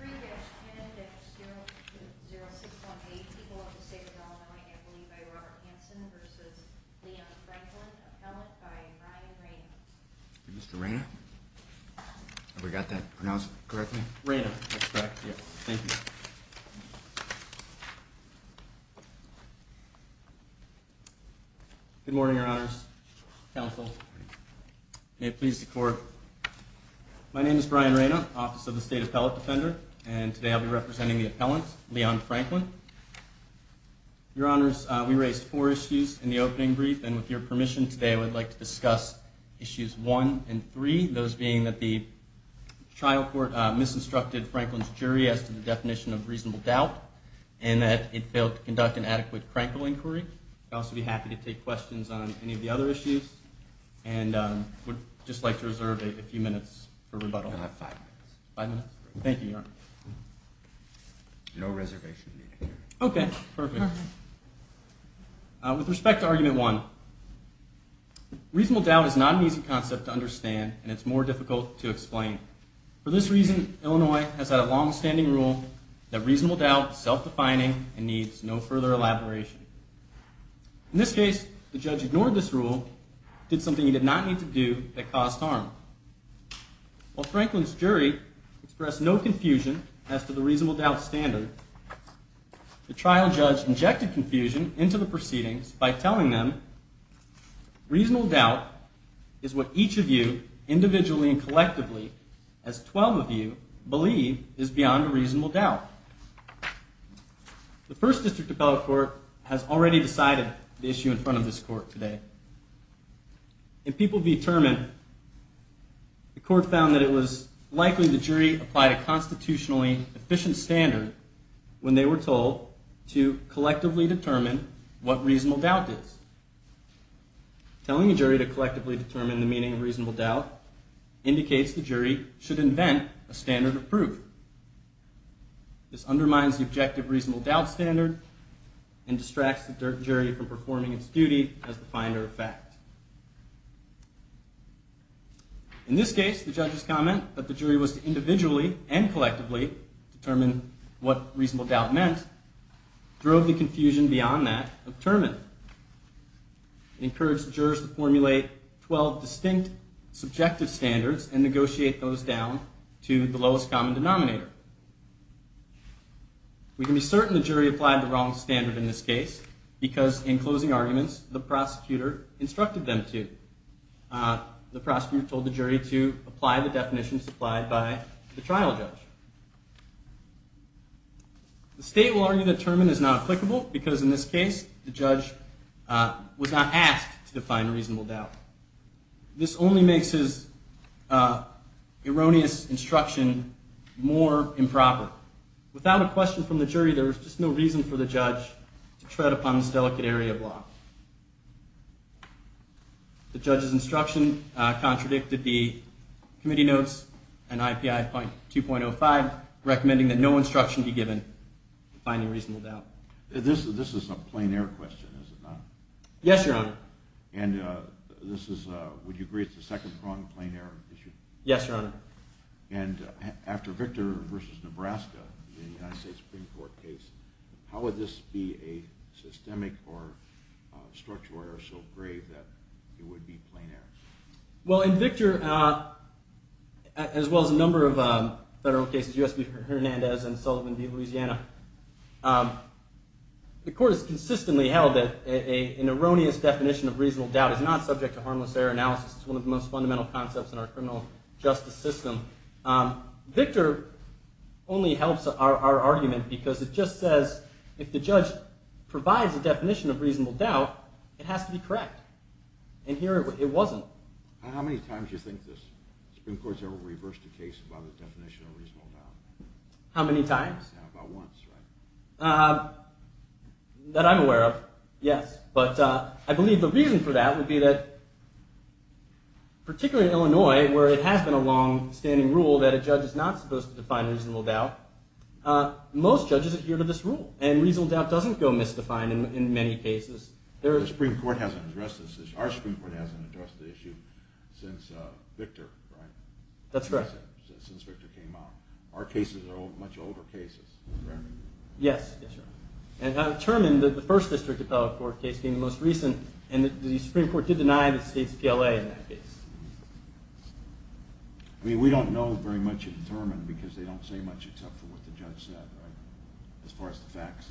3-10-0618. People of the State of Illinois, I believe by Robert Hanson v. Leon Franklin. Appellate by Brian Rayna. Mr. Rayna? Have we got that pronounced correctly? Rayna. That's correct, yes. Thank you. Good morning, Your Honors. Counsel, may it please the Court. My name is Brian Rayna, Office of the State Appellate Defender, and today I'll be representing the appellant, Leon Franklin. Your Honors, we raised four issues in the opening brief, and with your permission today I would like to discuss issues one and three, those being that the trial court misinstructed Franklin's jury as to the definition of reasonable doubt, and that it failed to conduct an adequate crankle inquiry. I'd also be happy to take questions on any of the other issues, and would just like to reserve a few minutes for rebuttal. You have five minutes. Five minutes? Thank you, Your Honor. No reservation needed here. Okay, perfect. With respect to argument one, reasonable doubt is not an easy concept to understand, and it's more difficult to explain. For this reason, Illinois has had a long-standing rule that reasonable doubt is self-defining and needs no further elaboration. In this case, the judge ignored this rule and did something he did not need to do that caused harm. While Franklin's jury expressed no confusion as to the reasonable doubt standard, the trial judge injected confusion into the proceedings by telling them, Reasonable doubt is what each of you, individually and collectively, as 12 of you, believe is beyond a reasonable doubt. The First District Appellate Court has already decided the issue in front of this court today. If people determine, the court found that it was likely the jury applied a constitutionally efficient standard when they were told to collectively determine what reasonable doubt is. Telling a jury to collectively determine the meaning of reasonable doubt indicates the jury should invent a standard of proof. This undermines the objective reasonable doubt standard and distracts the jury from performing its duty as the finder of fact. In this case, the judge's comment that the jury was to individually and collectively determine what reasonable doubt meant drove the confusion beyond that of Terman. It encouraged the jurors to formulate 12 distinct subjective standards and negotiate those down to the lowest common denominator. We can be certain the jury applied the wrong standard in this case because, in closing arguments, the prosecutor instructed them to. The prosecutor told the jury to apply the definitions applied by the trial judge. The state will argue that Terman is not applicable because, in this case, the judge was not asked to define reasonable doubt. This only makes his erroneous instruction more improper. Without a question from the jury, there is just no reason for the judge to tread upon this delicate area of law. The judge's instruction contradicted the committee notes and IPI 2.05, recommending that no instruction be given to finding reasonable doubt. This is a plain-air question, is it not? Yes, Your Honor. And would you agree it's the second-pronged plain-air issue? Yes, Your Honor. And after Victor v. Nebraska, the United States Supreme Court case, how would this be a systemic or structural error so grave that it would be plain-air? Well, in Victor, as well as a number of federal cases, U.S. v. Hernandez and Sullivan v. Louisiana, the Court has consistently held that an erroneous definition of reasonable doubt is not subject to harmless error analysis. It's one of the most fundamental concepts in our criminal justice system. Victor only helps our argument because it just says if the judge provides a definition of reasonable doubt, it has to be correct. And here it wasn't. How many times do you think the Supreme Court has ever reversed a case by the definition of reasonable doubt? How many times? About once, right? That I'm aware of, yes. But I believe the reason for that would be that, particularly in Illinois, where it has been a long-standing rule that a judge is not supposed to define reasonable doubt, most judges adhere to this rule. And reasonable doubt doesn't go misdefined in many cases. The Supreme Court hasn't addressed this issue. Our Supreme Court hasn't addressed the issue since Victor, right? That's correct. Since Victor came out. Our cases are much older cases, correct? Yes, that's right. And Terman, the first district appellate court case being the most recent, and the Supreme Court did deny the state's PLA in that case. I mean, we don't know very much of Terman because they don't say much except for what the judge said, right? As far as the facts.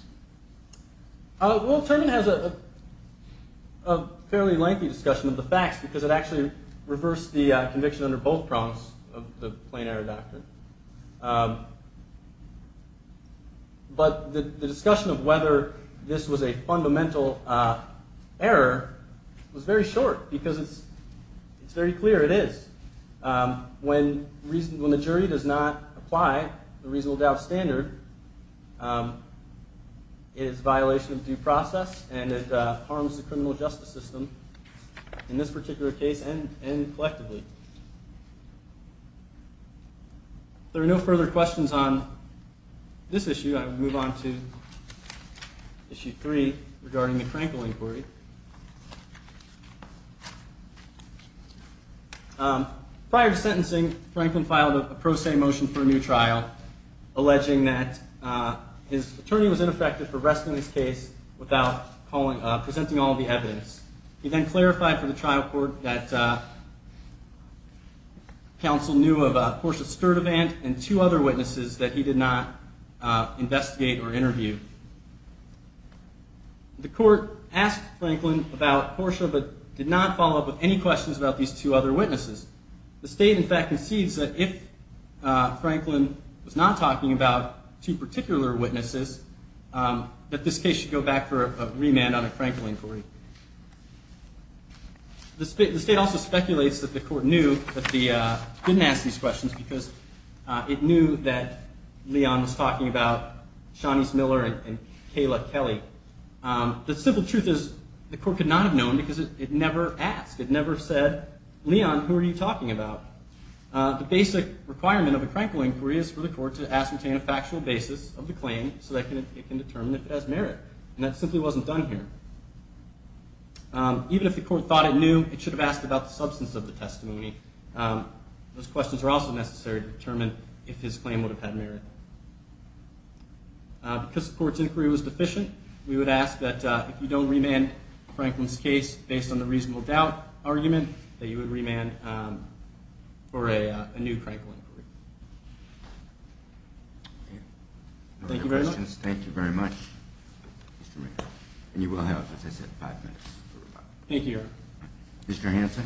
Well, Terman has a fairly lengthy discussion of the facts because it actually reversed the conviction under both prompts of the plain error doctrine. But the discussion of whether this was a fundamental error was very short because it's very clear it is. When the jury does not apply the reasonable doubt standard, it is a violation of due process and it harms the criminal justice system in this particular case and collectively. If there are no further questions on this issue, I will move on to issue three regarding the Franklin inquiry. Prior to sentencing, Franklin filed a pro se motion for a new trial alleging that his attorney was ineffective for arresting this case without presenting all the evidence. He then clarified for the trial court that counsel knew of Portia Sturdivant and two other witnesses that he did not investigate or interview. The court asked Franklin about Portia but did not follow up with any questions about these two other witnesses. The state, in fact, concedes that if Franklin was not talking about two particular witnesses, that this case should go back for a remand on a Franklin inquiry. The state also speculates that the court didn't ask these questions because it knew that Leon was talking about Shawnice Miller and Kayla Kelly. The simple truth is the court could not have known because it never asked. It never said, Leon, who are you talking about? The basic requirement of a Franklin inquiry is for the court to ascertain a factual basis of the claim so that it can determine if it has merit. And that simply wasn't done here. Even if the court thought it knew, it should have asked about the substance of the testimony. Those questions are also necessary to determine if his claim would have had merit. Because the court's inquiry was deficient, we would ask that if you don't remand Franklin's case based on the reasonable doubt argument, that you would remand for a new Franklin inquiry. Thank you very much. Thank you very much, Mr. Mayor. And you will have, as I said, five minutes. Thank you, Your Honor. Mr. Hanson?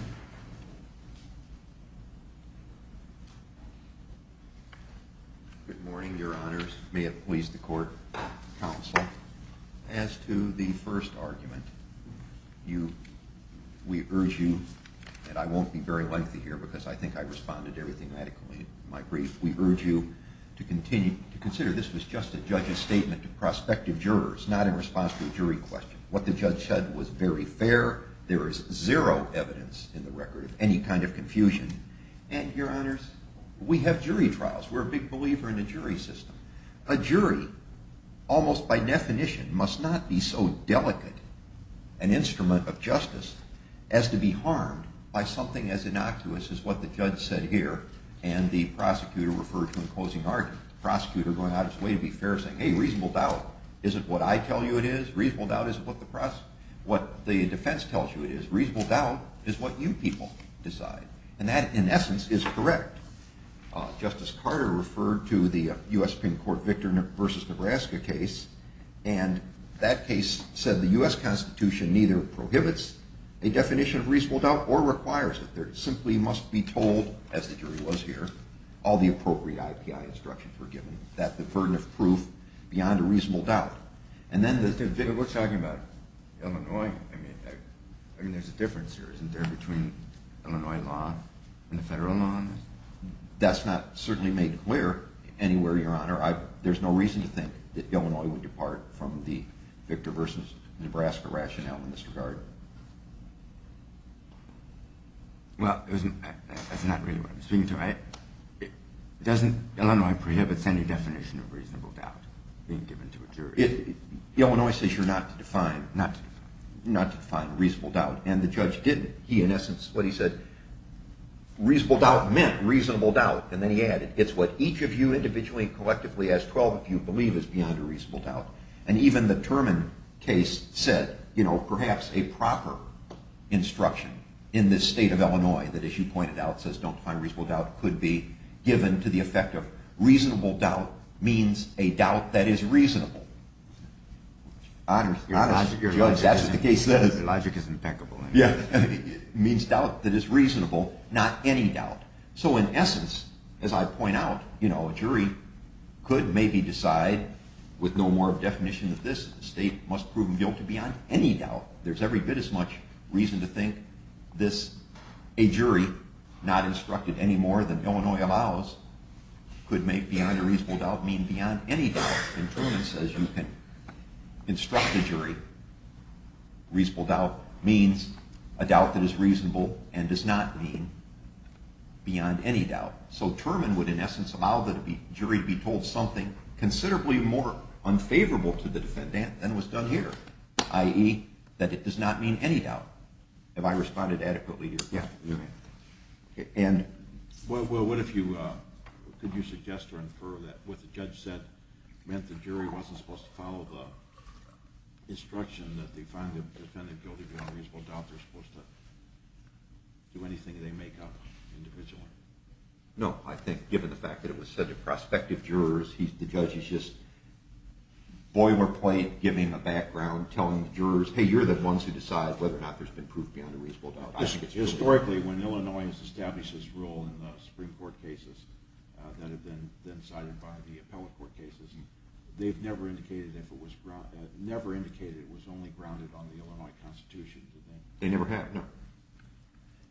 Good morning, Your Honors. May it please the court, counsel. As to the first argument, we urge you, and I won't be very lengthy here because I think I responded to everything medically in my brief. We urge you to consider this was just a judge's statement to prospective jurors, not in response to a jury question. What the judge said was very fair. There is zero evidence in the record of any kind of confusion. And, Your Honors, we have jury trials. We're a big believer in a jury system. A jury, almost by definition, must not be so delicate an instrument of justice as to be harmed by something as innocuous as what the judge said here and the prosecutor referred to in closing argument. The prosecutor going out of his way to be fair saying, hey, reasonable doubt isn't what I tell you it is. Reasonable doubt isn't what the defense tells you it is. Reasonable doubt is what you people decide. And that, in essence, is correct. Justice Carter referred to the U.S. Supreme Court Victor v. Nebraska case, and that case said the U.S. Constitution neither prohibits a definition of reasonable doubt or requires it. There simply must be told, as the jury was here, all the appropriate IPI instructions were given, that the burden of proof beyond a reasonable doubt. But we're talking about Illinois. I mean, there's a difference here, isn't there, between Illinois law and the federal law? That's not certainly made clear anywhere, Your Honor. There's no reason to think that Illinois would depart from the Victor v. Nebraska rationale in this regard. Well, that's not really what I'm speaking to. Doesn't Illinois prohibit any definition of reasonable doubt being given to a jury? Illinois says you're not to define reasonable doubt, and the judge didn't. He, in essence, what he said, reasonable doubt meant reasonable doubt, and then he added, it's what each of you individually and collectively, as 12 of you, believe is beyond a reasonable doubt. And even the Turman case said, you know, perhaps a proper instruction in this state of Illinois that, as you pointed out, says don't define reasonable doubt could be given to the effect of reasonable doubt means a doubt that is reasonable. Your logic is impeccable. Yeah. It means doubt that is reasonable, not any doubt. So in essence, as I point out, you know, a jury could maybe decide, with no more definition of this, the state must prove them guilty beyond any doubt. There's every bit as much reason to think this, a jury not instructed any more than Illinois allows, could make beyond a reasonable doubt mean beyond any doubt. And Turman says you can instruct a jury, reasonable doubt means a doubt that is reasonable and does not mean beyond any doubt. So Turman would, in essence, allow the jury to be told something considerably more unfavorable to the defendant than was done here, i.e., that it does not mean any doubt. Have I responded adequately here? Yeah, you have. Well, what if you could suggest or infer that what the judge said meant the jury wasn't supposed to follow the instruction that they find the defendant guilty beyond a reasonable doubt? They're supposed to do anything they make up individually. No, I think given the fact that it was said to prospective jurors, the judge is just boilerplate giving a background, telling the jurors, hey, you're the ones who decide whether or not there's been proof beyond a reasonable doubt. Historically, when Illinois has established this rule in the Supreme Court cases that have been cited by the appellate court cases, they've never indicated it was only grounded on the Illinois Constitution. They never have, no.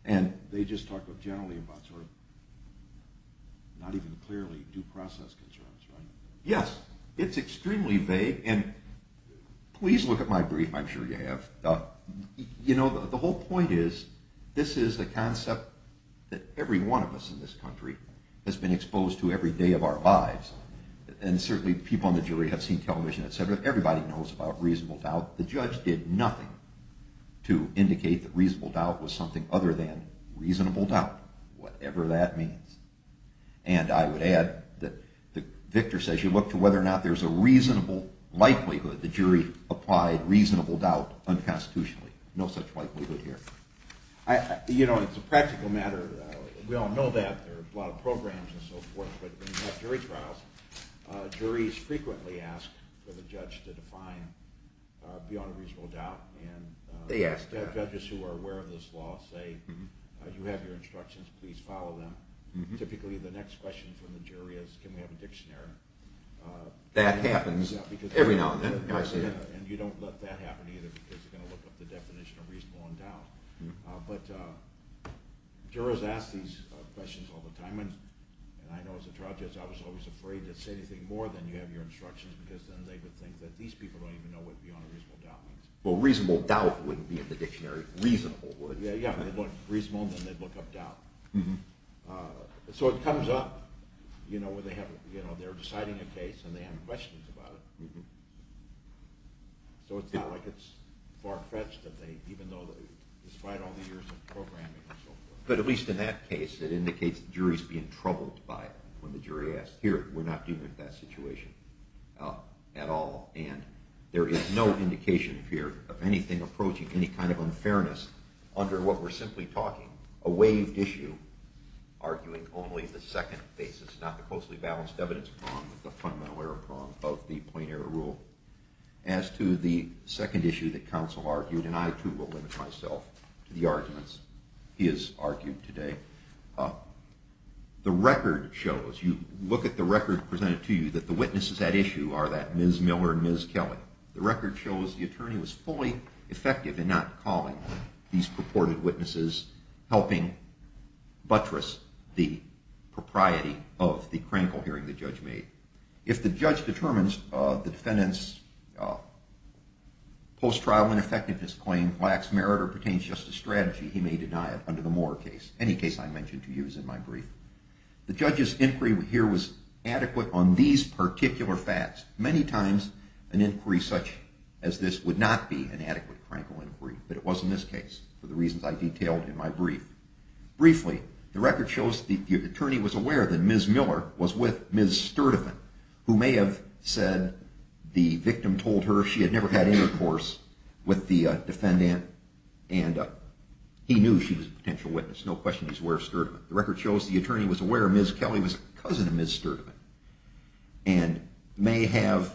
And they just talk generally about sort of not even clearly due process concerns, right? Yes, it's extremely vague, and please look at my brief. I'm sure you have. You know, the whole point is this is the concept that every one of us in this country has been exposed to every day of our lives, and certainly people on the jury have seen television, etc. Everybody knows about reasonable doubt. The judge did nothing to indicate that reasonable doubt was something other than reasonable doubt, whatever that means. And I would add that Victor says you look to whether or not there's a reasonable likelihood the jury applied reasonable doubt unconstitutionally. No such likelihood here. You know, it's a practical matter. We all know that. There are a lot of programs and so forth, but when you have jury trials, juries frequently ask for the judge to define beyond a reasonable doubt, and judges who are aware of this law say you have your instructions, please follow them. Typically the next question from the jury is can we have a dictionary? That happens every now and then. And you don't let that happen either because you're going to look up the definition of reasonable and doubt. But jurors ask these questions all the time, and I know as a trial judge I was always afraid to say anything more than you have your instructions because then they would think that these people don't even know what beyond a reasonable doubt means. Well, reasonable doubt wouldn't be in the dictionary. Reasonable would. Yeah, yeah. They'd look reasonable and then they'd look up doubt. So it comes up, you know, when they're deciding a case and they have questions about it. So it's not like it's far-fetched that they, even though, despite all the years of programming and so forth. But at least in that case it indicates the jury's being troubled by it. When the jury asks, here, we're not dealing with that situation at all, and there is no indication here of anything approaching any kind of unfairness under what we're simply talking, a waived issue arguing only the second basis, not the closely balanced evidence prong, the fundamental error prong of the plain error rule. As to the second issue that counsel argued, and I too will limit myself to the arguments he has argued today, the record shows, you look at the record presented to you, that the witnesses at issue are that Ms. Miller and Ms. Kelly. The record shows the attorney was fully effective in not calling these purported witnesses, helping buttress the propriety of the Krankel hearing the judge made. If the judge determines the defendant's post-trial ineffectiveness claim lacks merit or pertains just to strategy, he may deny it under the Moore case, any case I mention to you is in my brief. The judge's inquiry here was adequate on these particular facts. Many times an inquiry such as this would not be an adequate Krankel inquiry, but it was in this case for the reasons I detailed in my brief. Briefly, the record shows the attorney was aware that Ms. Miller was with Ms. Sturdivant, who may have said the victim told her she had never had intercourse with the defendant, and he knew she was a potential witness, no question he was aware of Sturdivant. The record shows the attorney was aware Ms. Kelly was a cousin of Ms. Sturdivant, and may have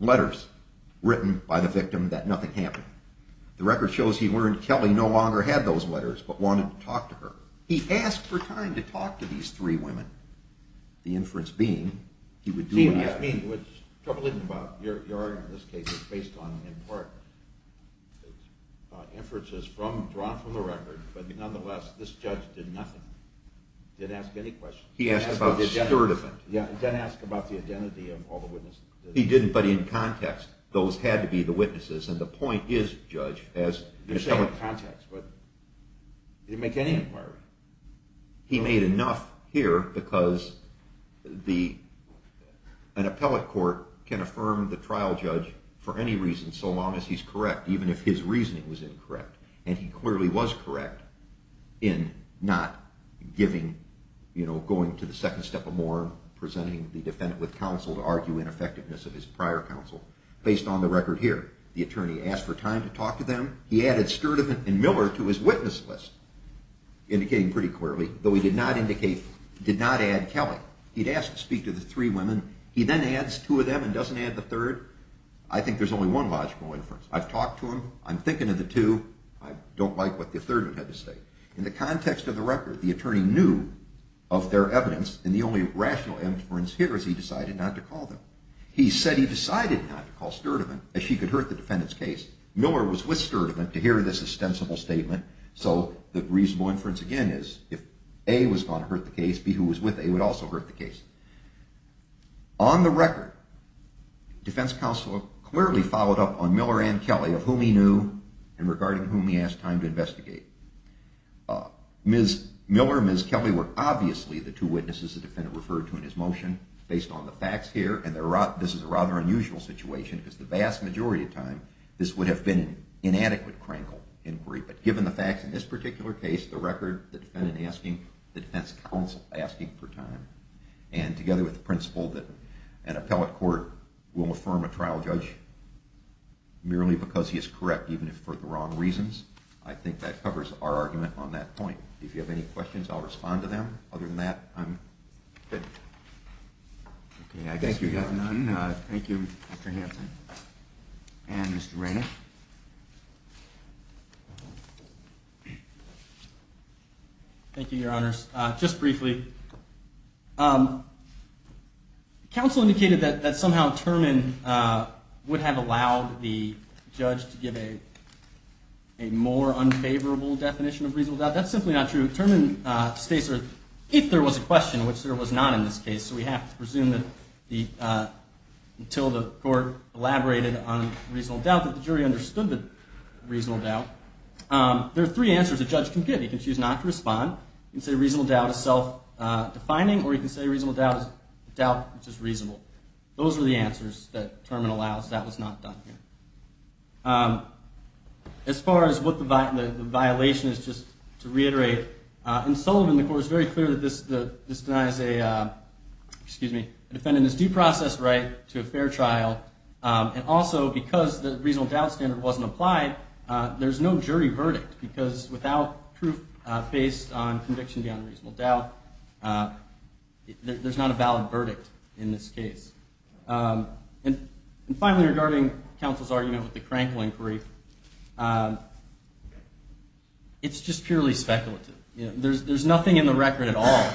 letters written by the victim that nothing happened. The record shows he learned Kelly no longer had those letters, but wanted to talk to her. He asked for time to talk to these three women, the inference being he would do that. The inference being, which is troubling about your argument in this case, it's based on, in part, inferences drawn from the record, but nonetheless, this judge did nothing. He didn't ask any questions. He asked about Sturdivant. Yeah, he didn't ask about the identity of all the witnesses. He didn't, but in context, those had to be the witnesses, and the point is, judge, You said context, but he didn't make any inquiries. He made enough here, because an appellate court can affirm the trial judge for any reason, so long as he's correct, even if his reasoning was incorrect, and he clearly was correct in not giving, you know, going to the second step or more, presenting the defendant with counsel to argue ineffectiveness of his prior counsel. Based on the record here, the attorney asked for time to talk to them. He added Sturdivant and Miller to his witness list, indicating pretty clearly, though he did not indicate, did not add Kelly. He'd asked to speak to the three women. He then adds two of them and doesn't add the third. I think there's only one logical inference. I've talked to them. I'm thinking of the two. I don't like what the third one had to say. In the context of the record, the attorney knew of their evidence, and the only rational inference here is he decided not to call them. He said he decided not to call Sturdivant, as she could hurt the defendant's case. Miller was with Sturdivant to hear this ostensible statement, so the reasonable inference again is if A was going to hurt the case, B, who was with A, would also hurt the case. On the record, defense counsel clearly followed up on Miller and Kelly, of whom he knew and regarding whom he asked time to investigate. Miller and Ms. Kelly were obviously the two witnesses the defendant referred to in his motion, based on the facts here, and this is a rather unusual situation because the vast majority of time this would have been an inadequate crankle inquiry. But given the facts in this particular case, the record, the defendant asking, the defense counsel asking for time, and together with the principle that an appellate court will affirm a trial judge merely because he is correct even if for the wrong reasons, I think that covers our argument on that point. If you have any questions, I'll respond to them. Other than that, I'm good. Okay, I guess we have none. Thank you. Thank you, Mr. Hanson. And Mr. Rainer. Thank you, Your Honors. Just briefly, counsel indicated that somehow Terman would have allowed the judge to give a more unfavorable definition of reasonable doubt. That's simply not true. Terman states that if there was a question, which there was not in this case, so we have to presume that until the court elaborated on reasonable doubt, that the jury understood the reasonable doubt. There are three answers a judge can give. He can choose not to respond. He can say reasonable doubt is self-defining, or he can say reasonable doubt is doubt which is reasonable. Those are the answers that Terman allows. That was not done here. As far as what the violation is, just to reiterate, in Sullivan the court is very clear that this denies a defendant his due process right to a fair trial, and also because the reasonable doubt standard wasn't applied, there's no jury verdict because without proof based on conviction beyond reasonable doubt, there's not a valid verdict in this case. And finally, regarding counsel's argument with the Cranklin brief, it's just purely speculative. There's nothing in the record at all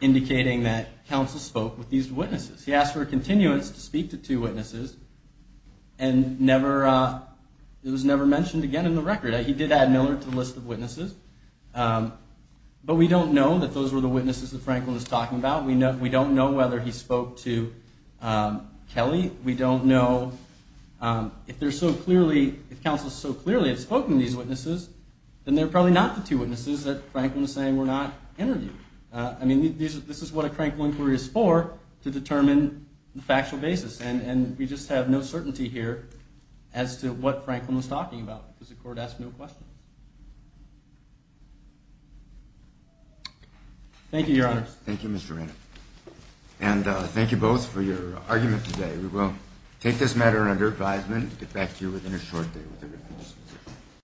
indicating that counsel spoke with these witnesses. He asked for a continuance to speak to two witnesses, and it was never mentioned again in the record. He did add Miller to the list of witnesses, but we don't know that those were the witnesses that Cranklin was talking about. We don't know whether he spoke to Kelly. We don't know if counsel so clearly had spoken to these witnesses, then they're probably not the two witnesses that Cranklin was saying were not interviewed. I mean, this is what a Cranklin inquiry is for, to determine the factual basis, and we just have no certainty here as to what Cranklin was talking about because the court asked no questions. Thank you, Your Honors. Thank you, Mr. Renner. And thank you both for your argument today. We will take this matter under advisement and get back to you within a short day.